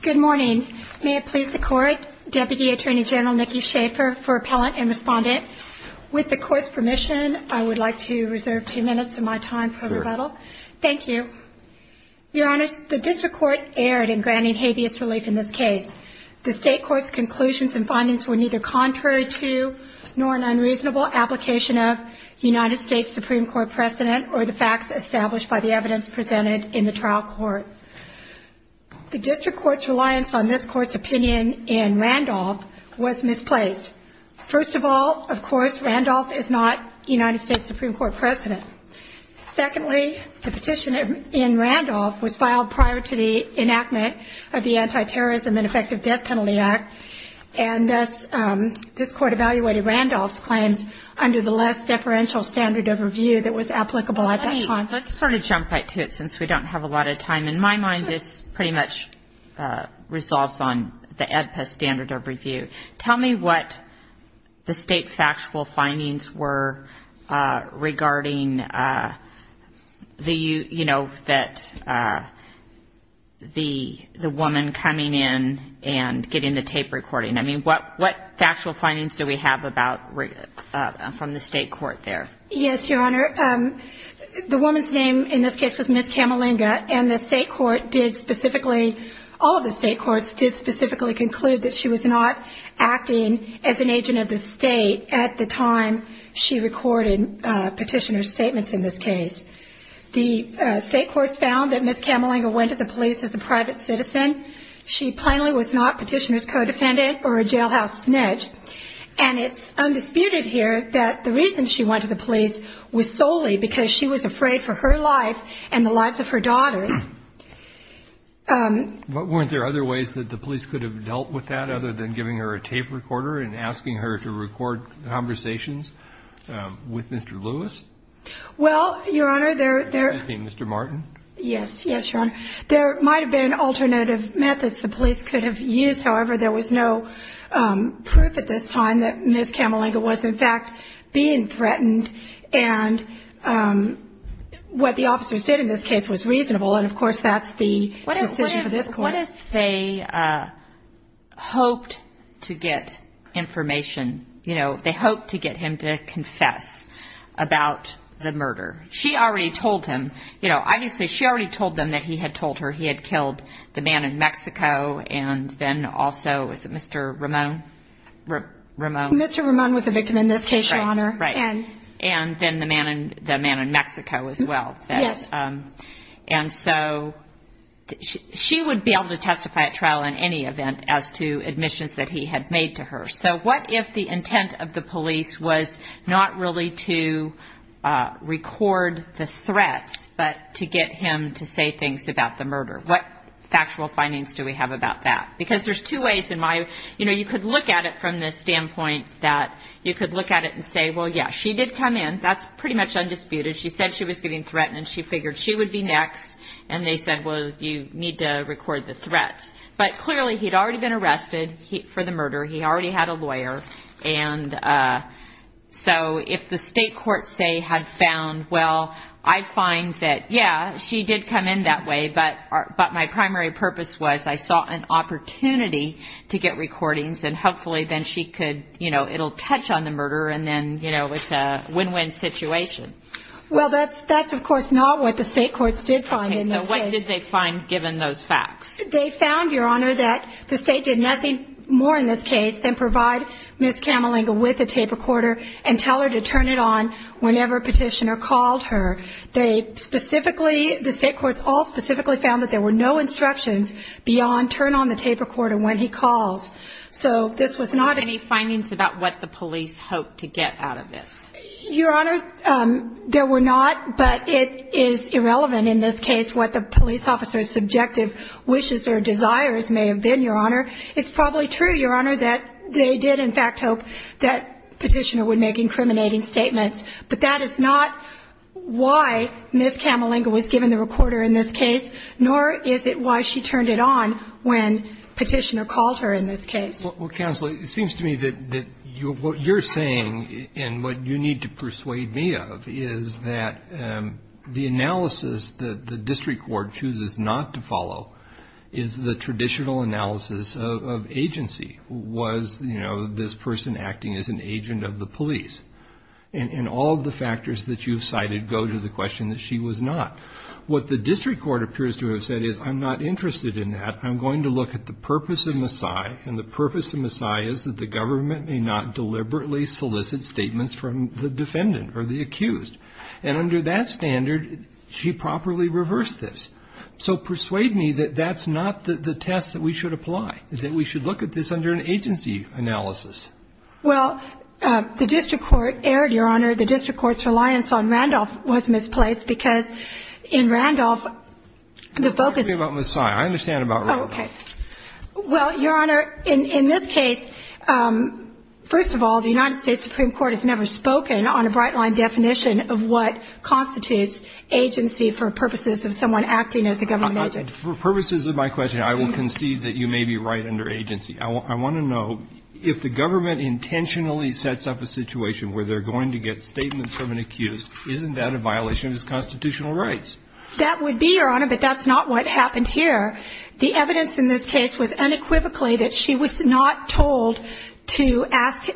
Good morning. May it please the Court, Deputy Attorney General Nicky Schaefer for appellant and respondent. With the Court's permission, I would like to reserve two minutes of my time for rebuttal. Thank you. Your Honor, the District Court erred in granting habeas relief in this case. The State Court's conclusions and findings were neither contrary to nor an unreasonable application of United States Supreme Court precedent or the facts established by the evidence presented in the trial court. The District Court's reliance on this Court's opinion in Randolph was misplaced. First of all, of course, Randolph is not United States Supreme Court precedent. Secondly, the petition in Randolph was filed prior to the enactment of the Anti-Terrorism and Effective Death Penalty Act and thus this Court evaluated Randolph's claims under the less deferential standard of review that was applicable at that time. Let's sort of jump right to it since we don't have a lot of time. In my mind, this pretty much resolves on the AEDPA standard of review. Tell me what the State factual findings were regarding the woman coming in and getting the tape recording. I mean, what factual findings do we have from the State Court there? Yes, Your Honor, the woman's name in this case was Ms. Camalinga and all of the State Courts did specifically conclude that she was not acting as an agent of the State at the time she recorded Petitioner's statements in this case. The State Courts found that Ms. Camalinga went to the police as a private citizen. She plainly was not Petitioner's co-defendant or a jailhouse snitch and it's undisputed here that the reason she went to the police was solely because she was afraid for her life and the lives of her daughters. Weren't there other ways that the police could have dealt with that other than giving her a tape recorder and asking her to record conversations with Mr. Lewis? Well, Your Honor, there... Mr. Martin? Yes. Yes, Your Honor. There might have been alternative methods the police could have used. However, there was no proof at this time that Ms. Camalinga was in fact being threatened and what the officers did in this case was reasonable and, of course, that's the decision of this Court. What if they hoped to get information, you know, they hoped to get him to confess about the murder? She already told him, you know, obviously she already told them that he had told her he had killed the man in Mexico and then also, is it Mr. Ramon? Mr. Ramon was the victim in this case, Your Honor. Right. And then the man in Mexico as well. Yes. And so she would be able to testify at trial in any event as to admissions that he had made to her. So what if the intent of the police was not really to record the threats but to get him to say things about the murder? What factual findings do we have about that? Because there's two ways in my... You know, you could look at it from the standpoint that you could look at it and say, well, yeah, she did come in. That's pretty much undisputed. She said she was getting threatened and she figured she would be next and they said, well, you need to record the threats. But clearly he had already been arrested for the murder. He already had a lawyer. And so if the state court, say, had found, well, I find that, yeah, she did come in that way, but my primary purpose was I saw an opportunity to get recordings and hopefully then she could, you know, it will touch on the murder and then, you know, it's a win-win situation. Well, that's, of course, not what the state courts did find in this case. Okay. So what did they find given those facts? They found, Your Honor, that the state did nothing more in this case than provide Ms. Camalinga with a tape recorder and tell her to turn it on whenever a petitioner called her. They specifically, the state courts all specifically found that there were no instructions beyond turn on the tape recorder when he called. So this was not a... Any findings about what the police hoped to get out of this? Your Honor, there were not, but it is irrelevant in this case what the police officer's subjective wishes or desires may have been, Your Honor. It's probably true, Your Honor, that they did, in fact, hope that the petitioner would make incriminating statements. But that is not why Ms. Camalinga was given the recorder in this case, nor is it why she turned it on when petitioner called her in this case. Well, Counsel, it seems to me that what you're saying and what you need to persuade me of is that the analysis that the district court chooses not to follow is the traditional analysis of agency. Was, you know, this person acting as an agent of the police? And all of the factors that you've cited go to the question that she was not. What the district court appears to have said is, I'm not interested in that. I'm going to look at the purpose of Maasai, and the purpose of Maasai is that the government may not deliberately solicit statements from the defendant or the accused. And under that standard, she properly reversed this. So persuade me that that's not the test that we should apply, that we should look at this under an agency analysis. Well, the district court erred, Your Honor. The district court's reliance on Randolph was misplaced because in Randolph, the focus of the case. Tell me about Maasai. I understand about Randolph. Oh, okay. Well, Your Honor, in this case, first of all, the United States Supreme Court has never spoken on a bright-line definition of what constitutes agency for purposes of someone acting as a government agent. For purposes of my question, I will concede that you may be right under agency. I want to know if the government intentionally sets up a situation where they're going to get statements from an accused, isn't that a violation of his constitutional rights? That would be, Your Honor, but that's not what happened here. The evidence in this case was unequivocally that she was not told to ask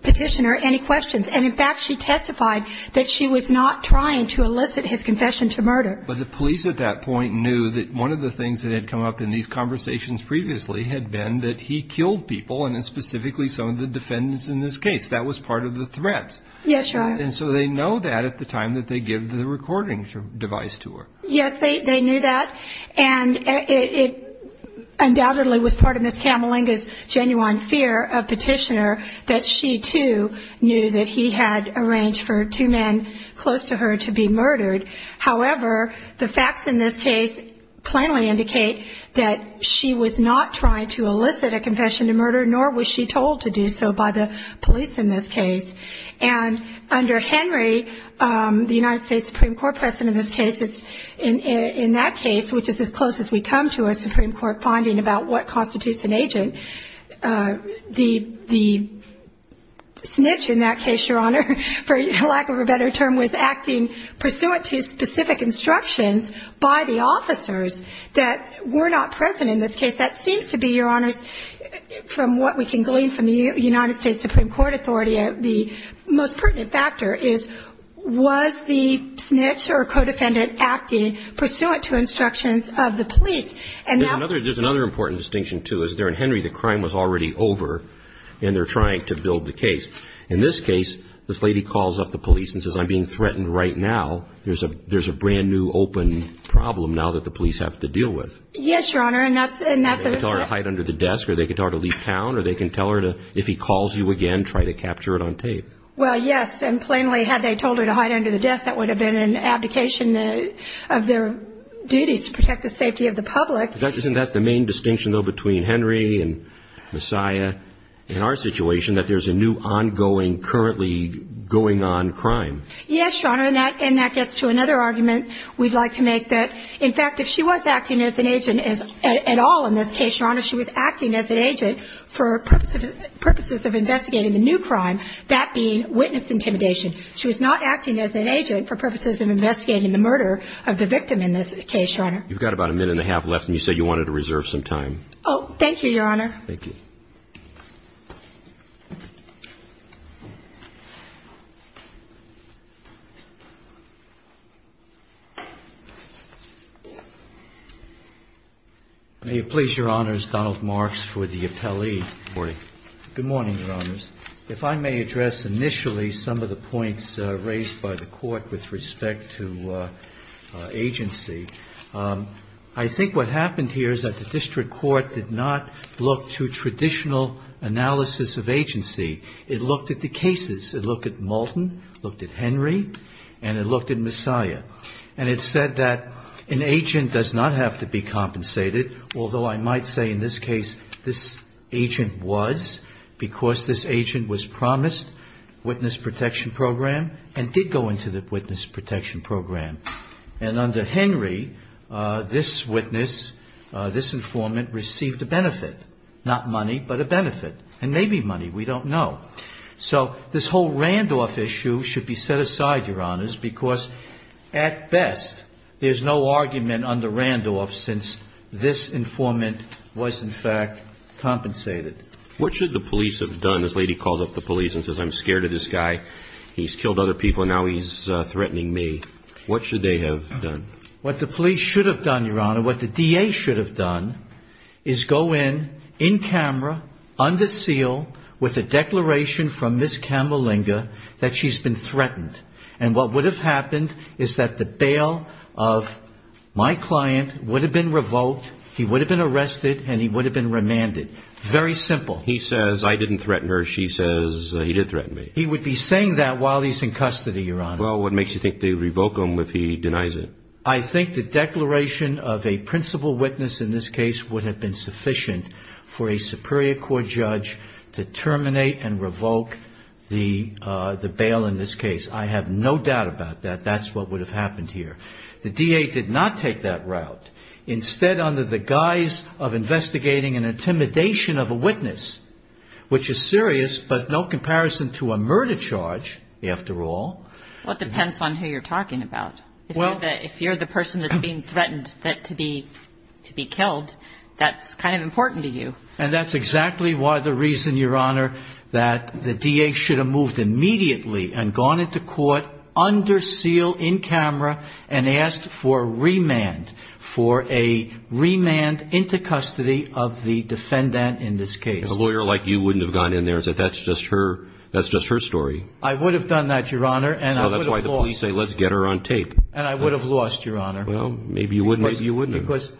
Petitioner any questions. And, in fact, she testified that she was not trying to elicit his confession to murder. But the police at that point knew that one of the things that had come up in these conversations previously had been that he killed people, and specifically some of the defendants in this case. That was part of the threats. Yes, Your Honor. And so they know that at the time that they give the recording device to her. Yes, they knew that. And it undoubtedly was part of Ms. Camalinga's genuine fear of Petitioner that she, too, knew that he had arranged for two men close to her to be murdered. However, the facts in this case plainly indicate that she was not trying to elicit a confession to murder, nor was she told to do so by the police in this case. And under Henry, the United States Supreme Court President in this case, in that case, which is as close as we come to a Supreme Court finding about what constitutes an agent, the snitch in that case, Your Honor, for lack of a better term, was acting pursuant to specific instructions by the officers that were not present in this case. That seems to be, Your Honors, from what we can glean from the United States Supreme Court authority, the most pertinent factor is, was the snitch or co-defendant acting pursuant to instructions of the police? There's another important distinction, too, is there in Henry the crime was already over, and they're trying to build the case. In this case, this lady calls up the police and says, I'm being threatened right now. There's a brand-new open problem now that the police have to deal with. Yes, Your Honor, and that's a... They can tell her to hide under the desk, or they can tell her to leave town, or they can tell her to, if he calls you again, try to capture it on tape. Well, yes, and plainly had they told her to hide under the desk, that would have been an abdication of their duties to protect the safety of the public. Isn't that the main distinction, though, between Henry and Messiah in our situation, that there's a new ongoing, currently going-on crime? Yes, Your Honor, and that gets to another argument we'd like to make, that, in fact, if she was acting as an agent at all in this case, Your Honor, she was acting as an agent for purposes of investigating the new crime, that being witness intimidation. She was not acting as an agent for purposes of investigating the murder of the victim in this case, Your Honor. You've got about a minute and a half left, and you said you wanted to reserve some time. Oh, thank you, Your Honor. Thank you. May it please Your Honors, Donald Marks for the appellee. Good morning. Good morning, Your Honors. If I may address initially some of the points raised by the Court with respect to agency, I think what happened here is that the district court did not look to traditional analysis of agency. It looked at the cases. It looked at Malton, looked at Henry, and it looked at Messiah. And it said that an agent does not have to be compensated, although I might say in this case this agent was because this agent was promised witness protection program and did go into the witness protection program. And under Henry, this witness, this informant received a benefit, not money, but a benefit, and maybe money. We don't know. So this whole Randolph issue should be set aside, Your Honors, because at best there's no argument under Randolph since this informant was, in fact, compensated. What should the police have done? This lady called up the police and says, I'm scared of this guy. He's killed other people. Now he's threatening me. What should they have done? What the police should have done, Your Honor, what the DA should have done is go in, in camera, under seal with a declaration from Ms. Camalinga that she's been threatened. And what would have happened is that the bail of my client would have been revoked, he would have been arrested, and he would have been remanded. Very simple. He says, I didn't threaten her. She says, he did threaten me. He would be saying that while he's in custody, Your Honor. Well, what makes you think they would revoke him if he denies it? I think the declaration of a principal witness in this case would have been sufficient for a Superior Court judge to terminate and revoke the bail in this case. I have no doubt about that. That's what would have happened here. The DA did not take that route. Instead, under the guise of investigating an intimidation of a witness, which is serious, but no comparison to a murder charge, after all. Well, it depends on who you're talking about. If you're the person that's being threatened to be killed, that's kind of important to you. And that's exactly why the reason, Your Honor, that the DA should have moved immediately and gone into court under seal, in camera, and asked for remand, for a remand into custody of the defendant in this case. A lawyer like you wouldn't have gone in there and said, that's just her story. I would have done that, Your Honor. So that's why the police say, let's get her on tape. And I would have lost, Your Honor. Well, maybe you wouldn't have. Because,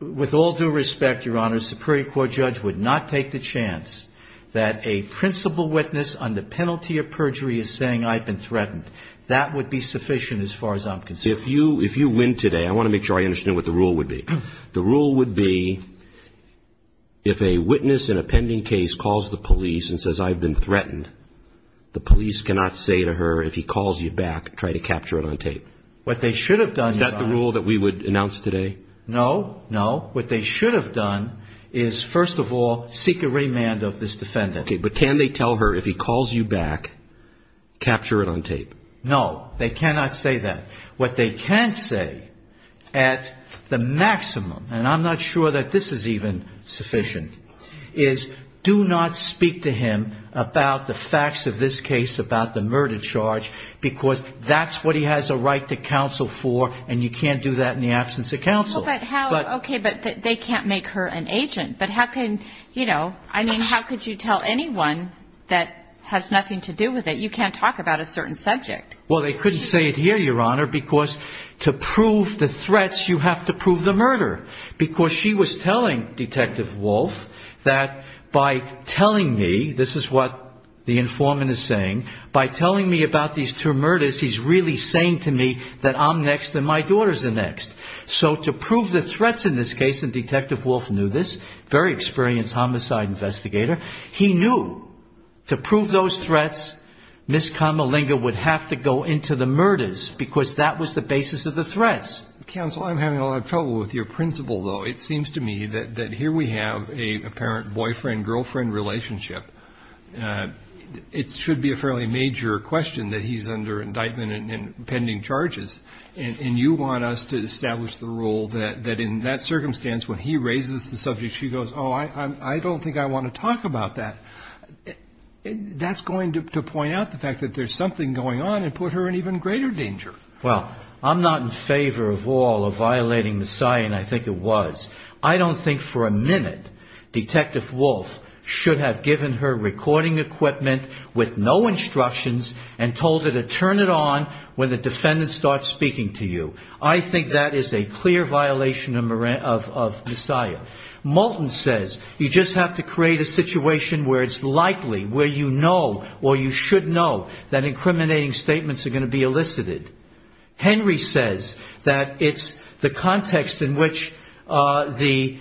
with all due respect, Your Honor, a Superior Court judge would not take the chance that a principal witness, under penalty of perjury, is saying, I've been threatened. That would be sufficient, as far as I'm concerned. If you win today, I want to make sure I understand what the rule would be. The rule would be, if a witness in a pending case calls the police and says, I've been threatened, the police cannot say to her, if he calls you back, try to capture it on tape. What they should have done, Your Honor. No, no. What they should have done is, first of all, seek a remand of this defendant. Okay, but can they tell her, if he calls you back, capture it on tape? No, they cannot say that. What they can say, at the maximum, and I'm not sure that this is even sufficient, is do not speak to him about the facts of this case, about the murder charge, because that's what he has a right to counsel for, and you can't do that in the absence of counsel. Okay, but they can't make her an agent. But how can, you know, I mean, how could you tell anyone that has nothing to do with it, you can't talk about a certain subject? Well, they couldn't say it here, Your Honor, because to prove the threats, you have to prove the murder. Because she was telling Detective Wolf that by telling me, this is what the informant is saying, by telling me about these two murders, he's really saying to me that I'm next and my daughter's the next. So to prove the threats in this case, and Detective Wolf knew this, very experienced homicide investigator, he knew to prove those threats, Ms. Kamalinga would have to go into the murders, because that was the basis of the threats. Counsel, I'm having a lot of trouble with your principle, though. It seems to me that here we have an apparent boyfriend-girlfriend relationship. It should be a fairly major question that he's under indictment and pending charges, and you want us to establish the rule that in that circumstance when he raises the subject, she goes, oh, I don't think I want to talk about that. That's going to point out the fact that there's something going on and put her in even greater danger. Well, I'm not in favor of all of violating the sign, I think it was. I don't think for a minute Detective Wolf should have given her recording equipment with no instructions and told her to turn it on when the defendant starts speaking to you. I think that is a clear violation of Messiah. Moulton says you just have to create a situation where it's likely, where you know, or you should know that incriminating statements are going to be elicited. Henry says that it's the context in which the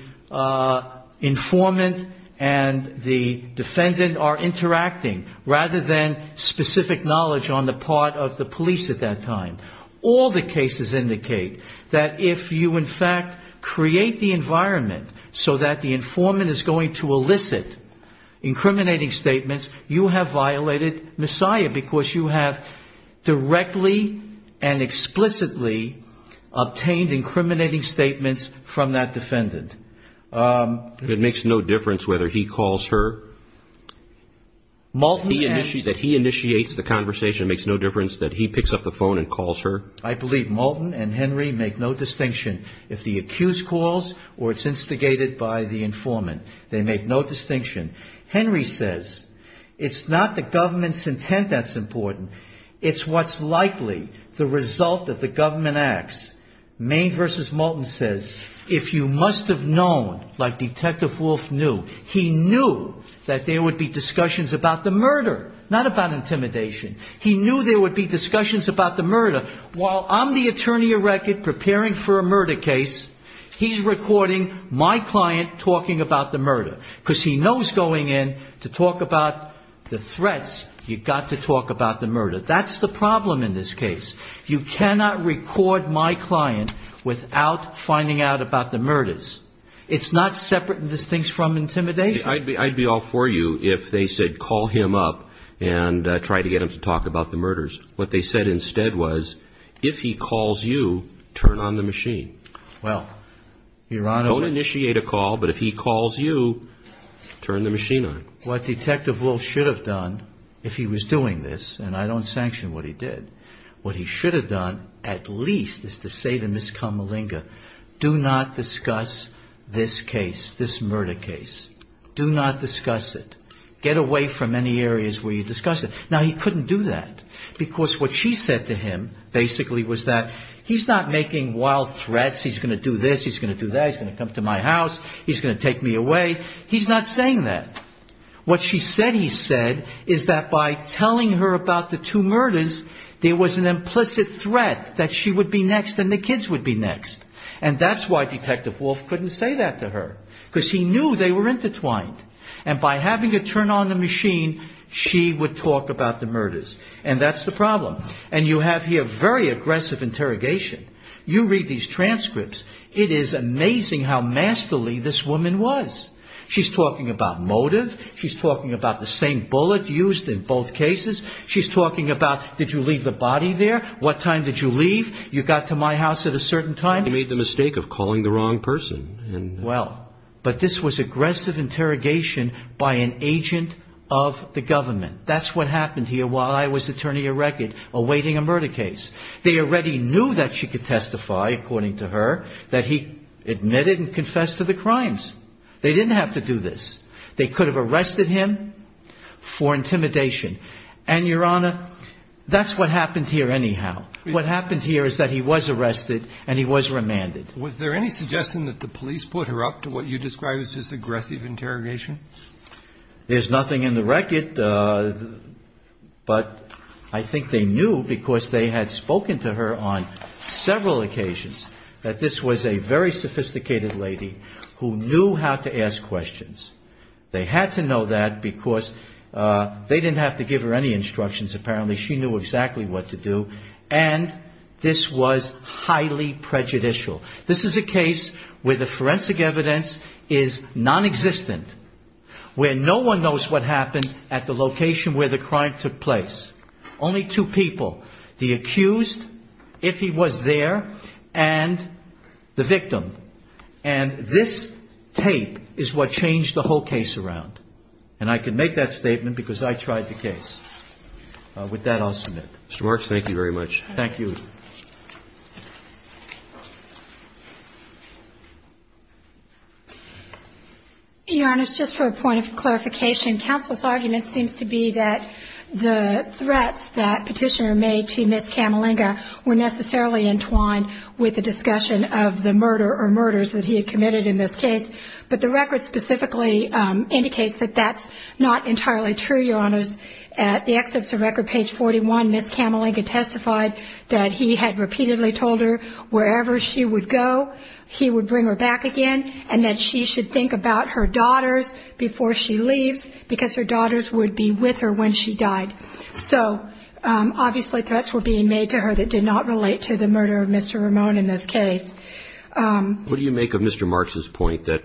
informant and the defendant are interacting rather than specific knowledge on the part of the police at that time. All the cases indicate that if you in fact create the environment so that the informant is going to elicit incriminating statements, you have violated Messiah because you have directly and explicitly obtained incriminating statements from that defendant. It makes no difference whether he calls her. That he initiates the conversation makes no difference that he picks up the phone and calls her. I believe Moulton and Henry make no distinction if the accused calls or it's instigated by the informant. They make no distinction. Henry says it's not the government's intent that's important. It's what's likely the result of the government acts. Maine v. Moulton says if you must have known, like Detective Wolfe knew, he knew that there would be discussions about the murder, not about intimidation. He knew there would be discussions about the murder. While I'm the attorney erected preparing for a murder case, he's recording my client talking about the murder because he knows going in to talk about the threats, you've got to talk about the murder. That's the problem in this case. You cannot record my client without finding out about the murders. It's not separate and distinct from intimidation. I'd be all for you if they said call him up and try to get him to talk about the murders. What they said instead was if he calls you, turn on the machine. Don't initiate a call, but if he calls you, turn the machine on. What Detective Wolfe should have done if he was doing this, and I don't sanction what he did, what he should have done at least is to say to Ms. Kamalinga, do not discuss this case, this murder case. Do not discuss it. Get away from any areas where you discuss it. Now, he couldn't do that because what she said to him basically was that he's not making wild threats. He's going to do this. He's going to do that. He's going to come to my house. He's going to take me away. He's not saying that. What she said he said is that by telling her about the two murders, there was an implicit threat that she would be next and the kids would be next, and that's why Detective Wolfe couldn't say that to her because he knew they were intertwined, and by having her turn on the machine, she would talk about the murders, and that's the problem, and you have here very aggressive interrogation. You read these transcripts. It is amazing how masterly this woman was. She's talking about motive. She's talking about the same bullet used in both cases. She's talking about did you leave the body there? What time did you leave? You got to my house at a certain time. He made the mistake of calling the wrong person. Well, but this was aggressive interrogation by an agent of the government. That's what happened here while I was attorney of record awaiting a murder case. They already knew that she could testify, according to her, that he admitted and confessed to the crimes. They didn't have to do this. They could have arrested him for intimidation, and, Your Honor, that's what happened here anyhow. What happened here is that he was arrested and he was remanded. Was there any suggestion that the police put her up to what you describe as this aggressive interrogation? There's nothing in the record, but I think they knew because they had spoken to her on several occasions that this was a very sophisticated lady who knew how to ask questions. They had to know that because they didn't have to give her any instructions. Apparently she knew exactly what to do, and this was highly prejudicial. This is a case where the forensic evidence is nonexistent, where no one knows what happened at the location where the crime took place. Only two people, the accused, if he was there, and the victim. And this tape is what changed the whole case around. And I can make that statement because I tried the case. With that, I'll submit. Mr. Marks, thank you very much. Thank you. Your Honors, just for a point of clarification, counsel's argument seems to be that the threats that Petitioner made to Ms. Camalinga were necessarily entwined with the discussion of the murder or murders that he had committed in this case. But the record specifically indicates that that's not entirely true, Your Honors. At the excerpts of record, page 41, Ms. Camalinga testified that he had repeatedly told her wherever she would go, he would bring her back again, and that she should think about her daughters before she leaves because her daughters would be with her when she died. So obviously threats were being made to her that did not relate to the murder of Mr. Ramone in this case. What do you make of Mr. Marks' point that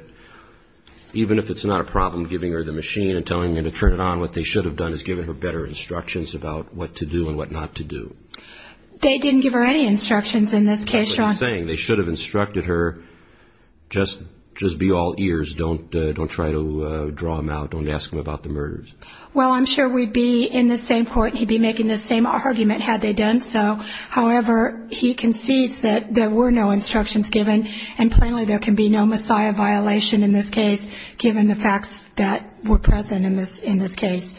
even if it's not a problem giving her the machine and telling him to turn it on, what they should have done is given her better instructions about what to do and what not to do? They didn't give her any instructions in this case, Your Honors. That's what I'm saying. They should have instructed her just be all ears, don't try to draw him out, don't ask him about the murders. Well, I'm sure we'd be in the same court and he'd be making the same argument had they done so. However, he concedes that there were no instructions given, and plainly there can be no messiah violation in this case given the facts that were present in this case.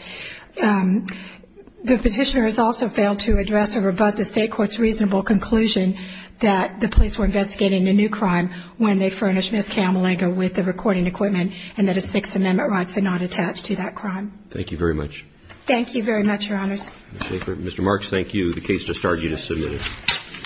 The petitioner has also failed to address or rebut the state court's reasonable conclusion that the police were investigating a new crime when they furnished Ms. Camelenga with the recording equipment and that his Sixth Amendment rights are not attached to that crime. Thank you very much. Thank you very much, Your Honors. Mr. Marks, thank you. The case has started. You may submit it.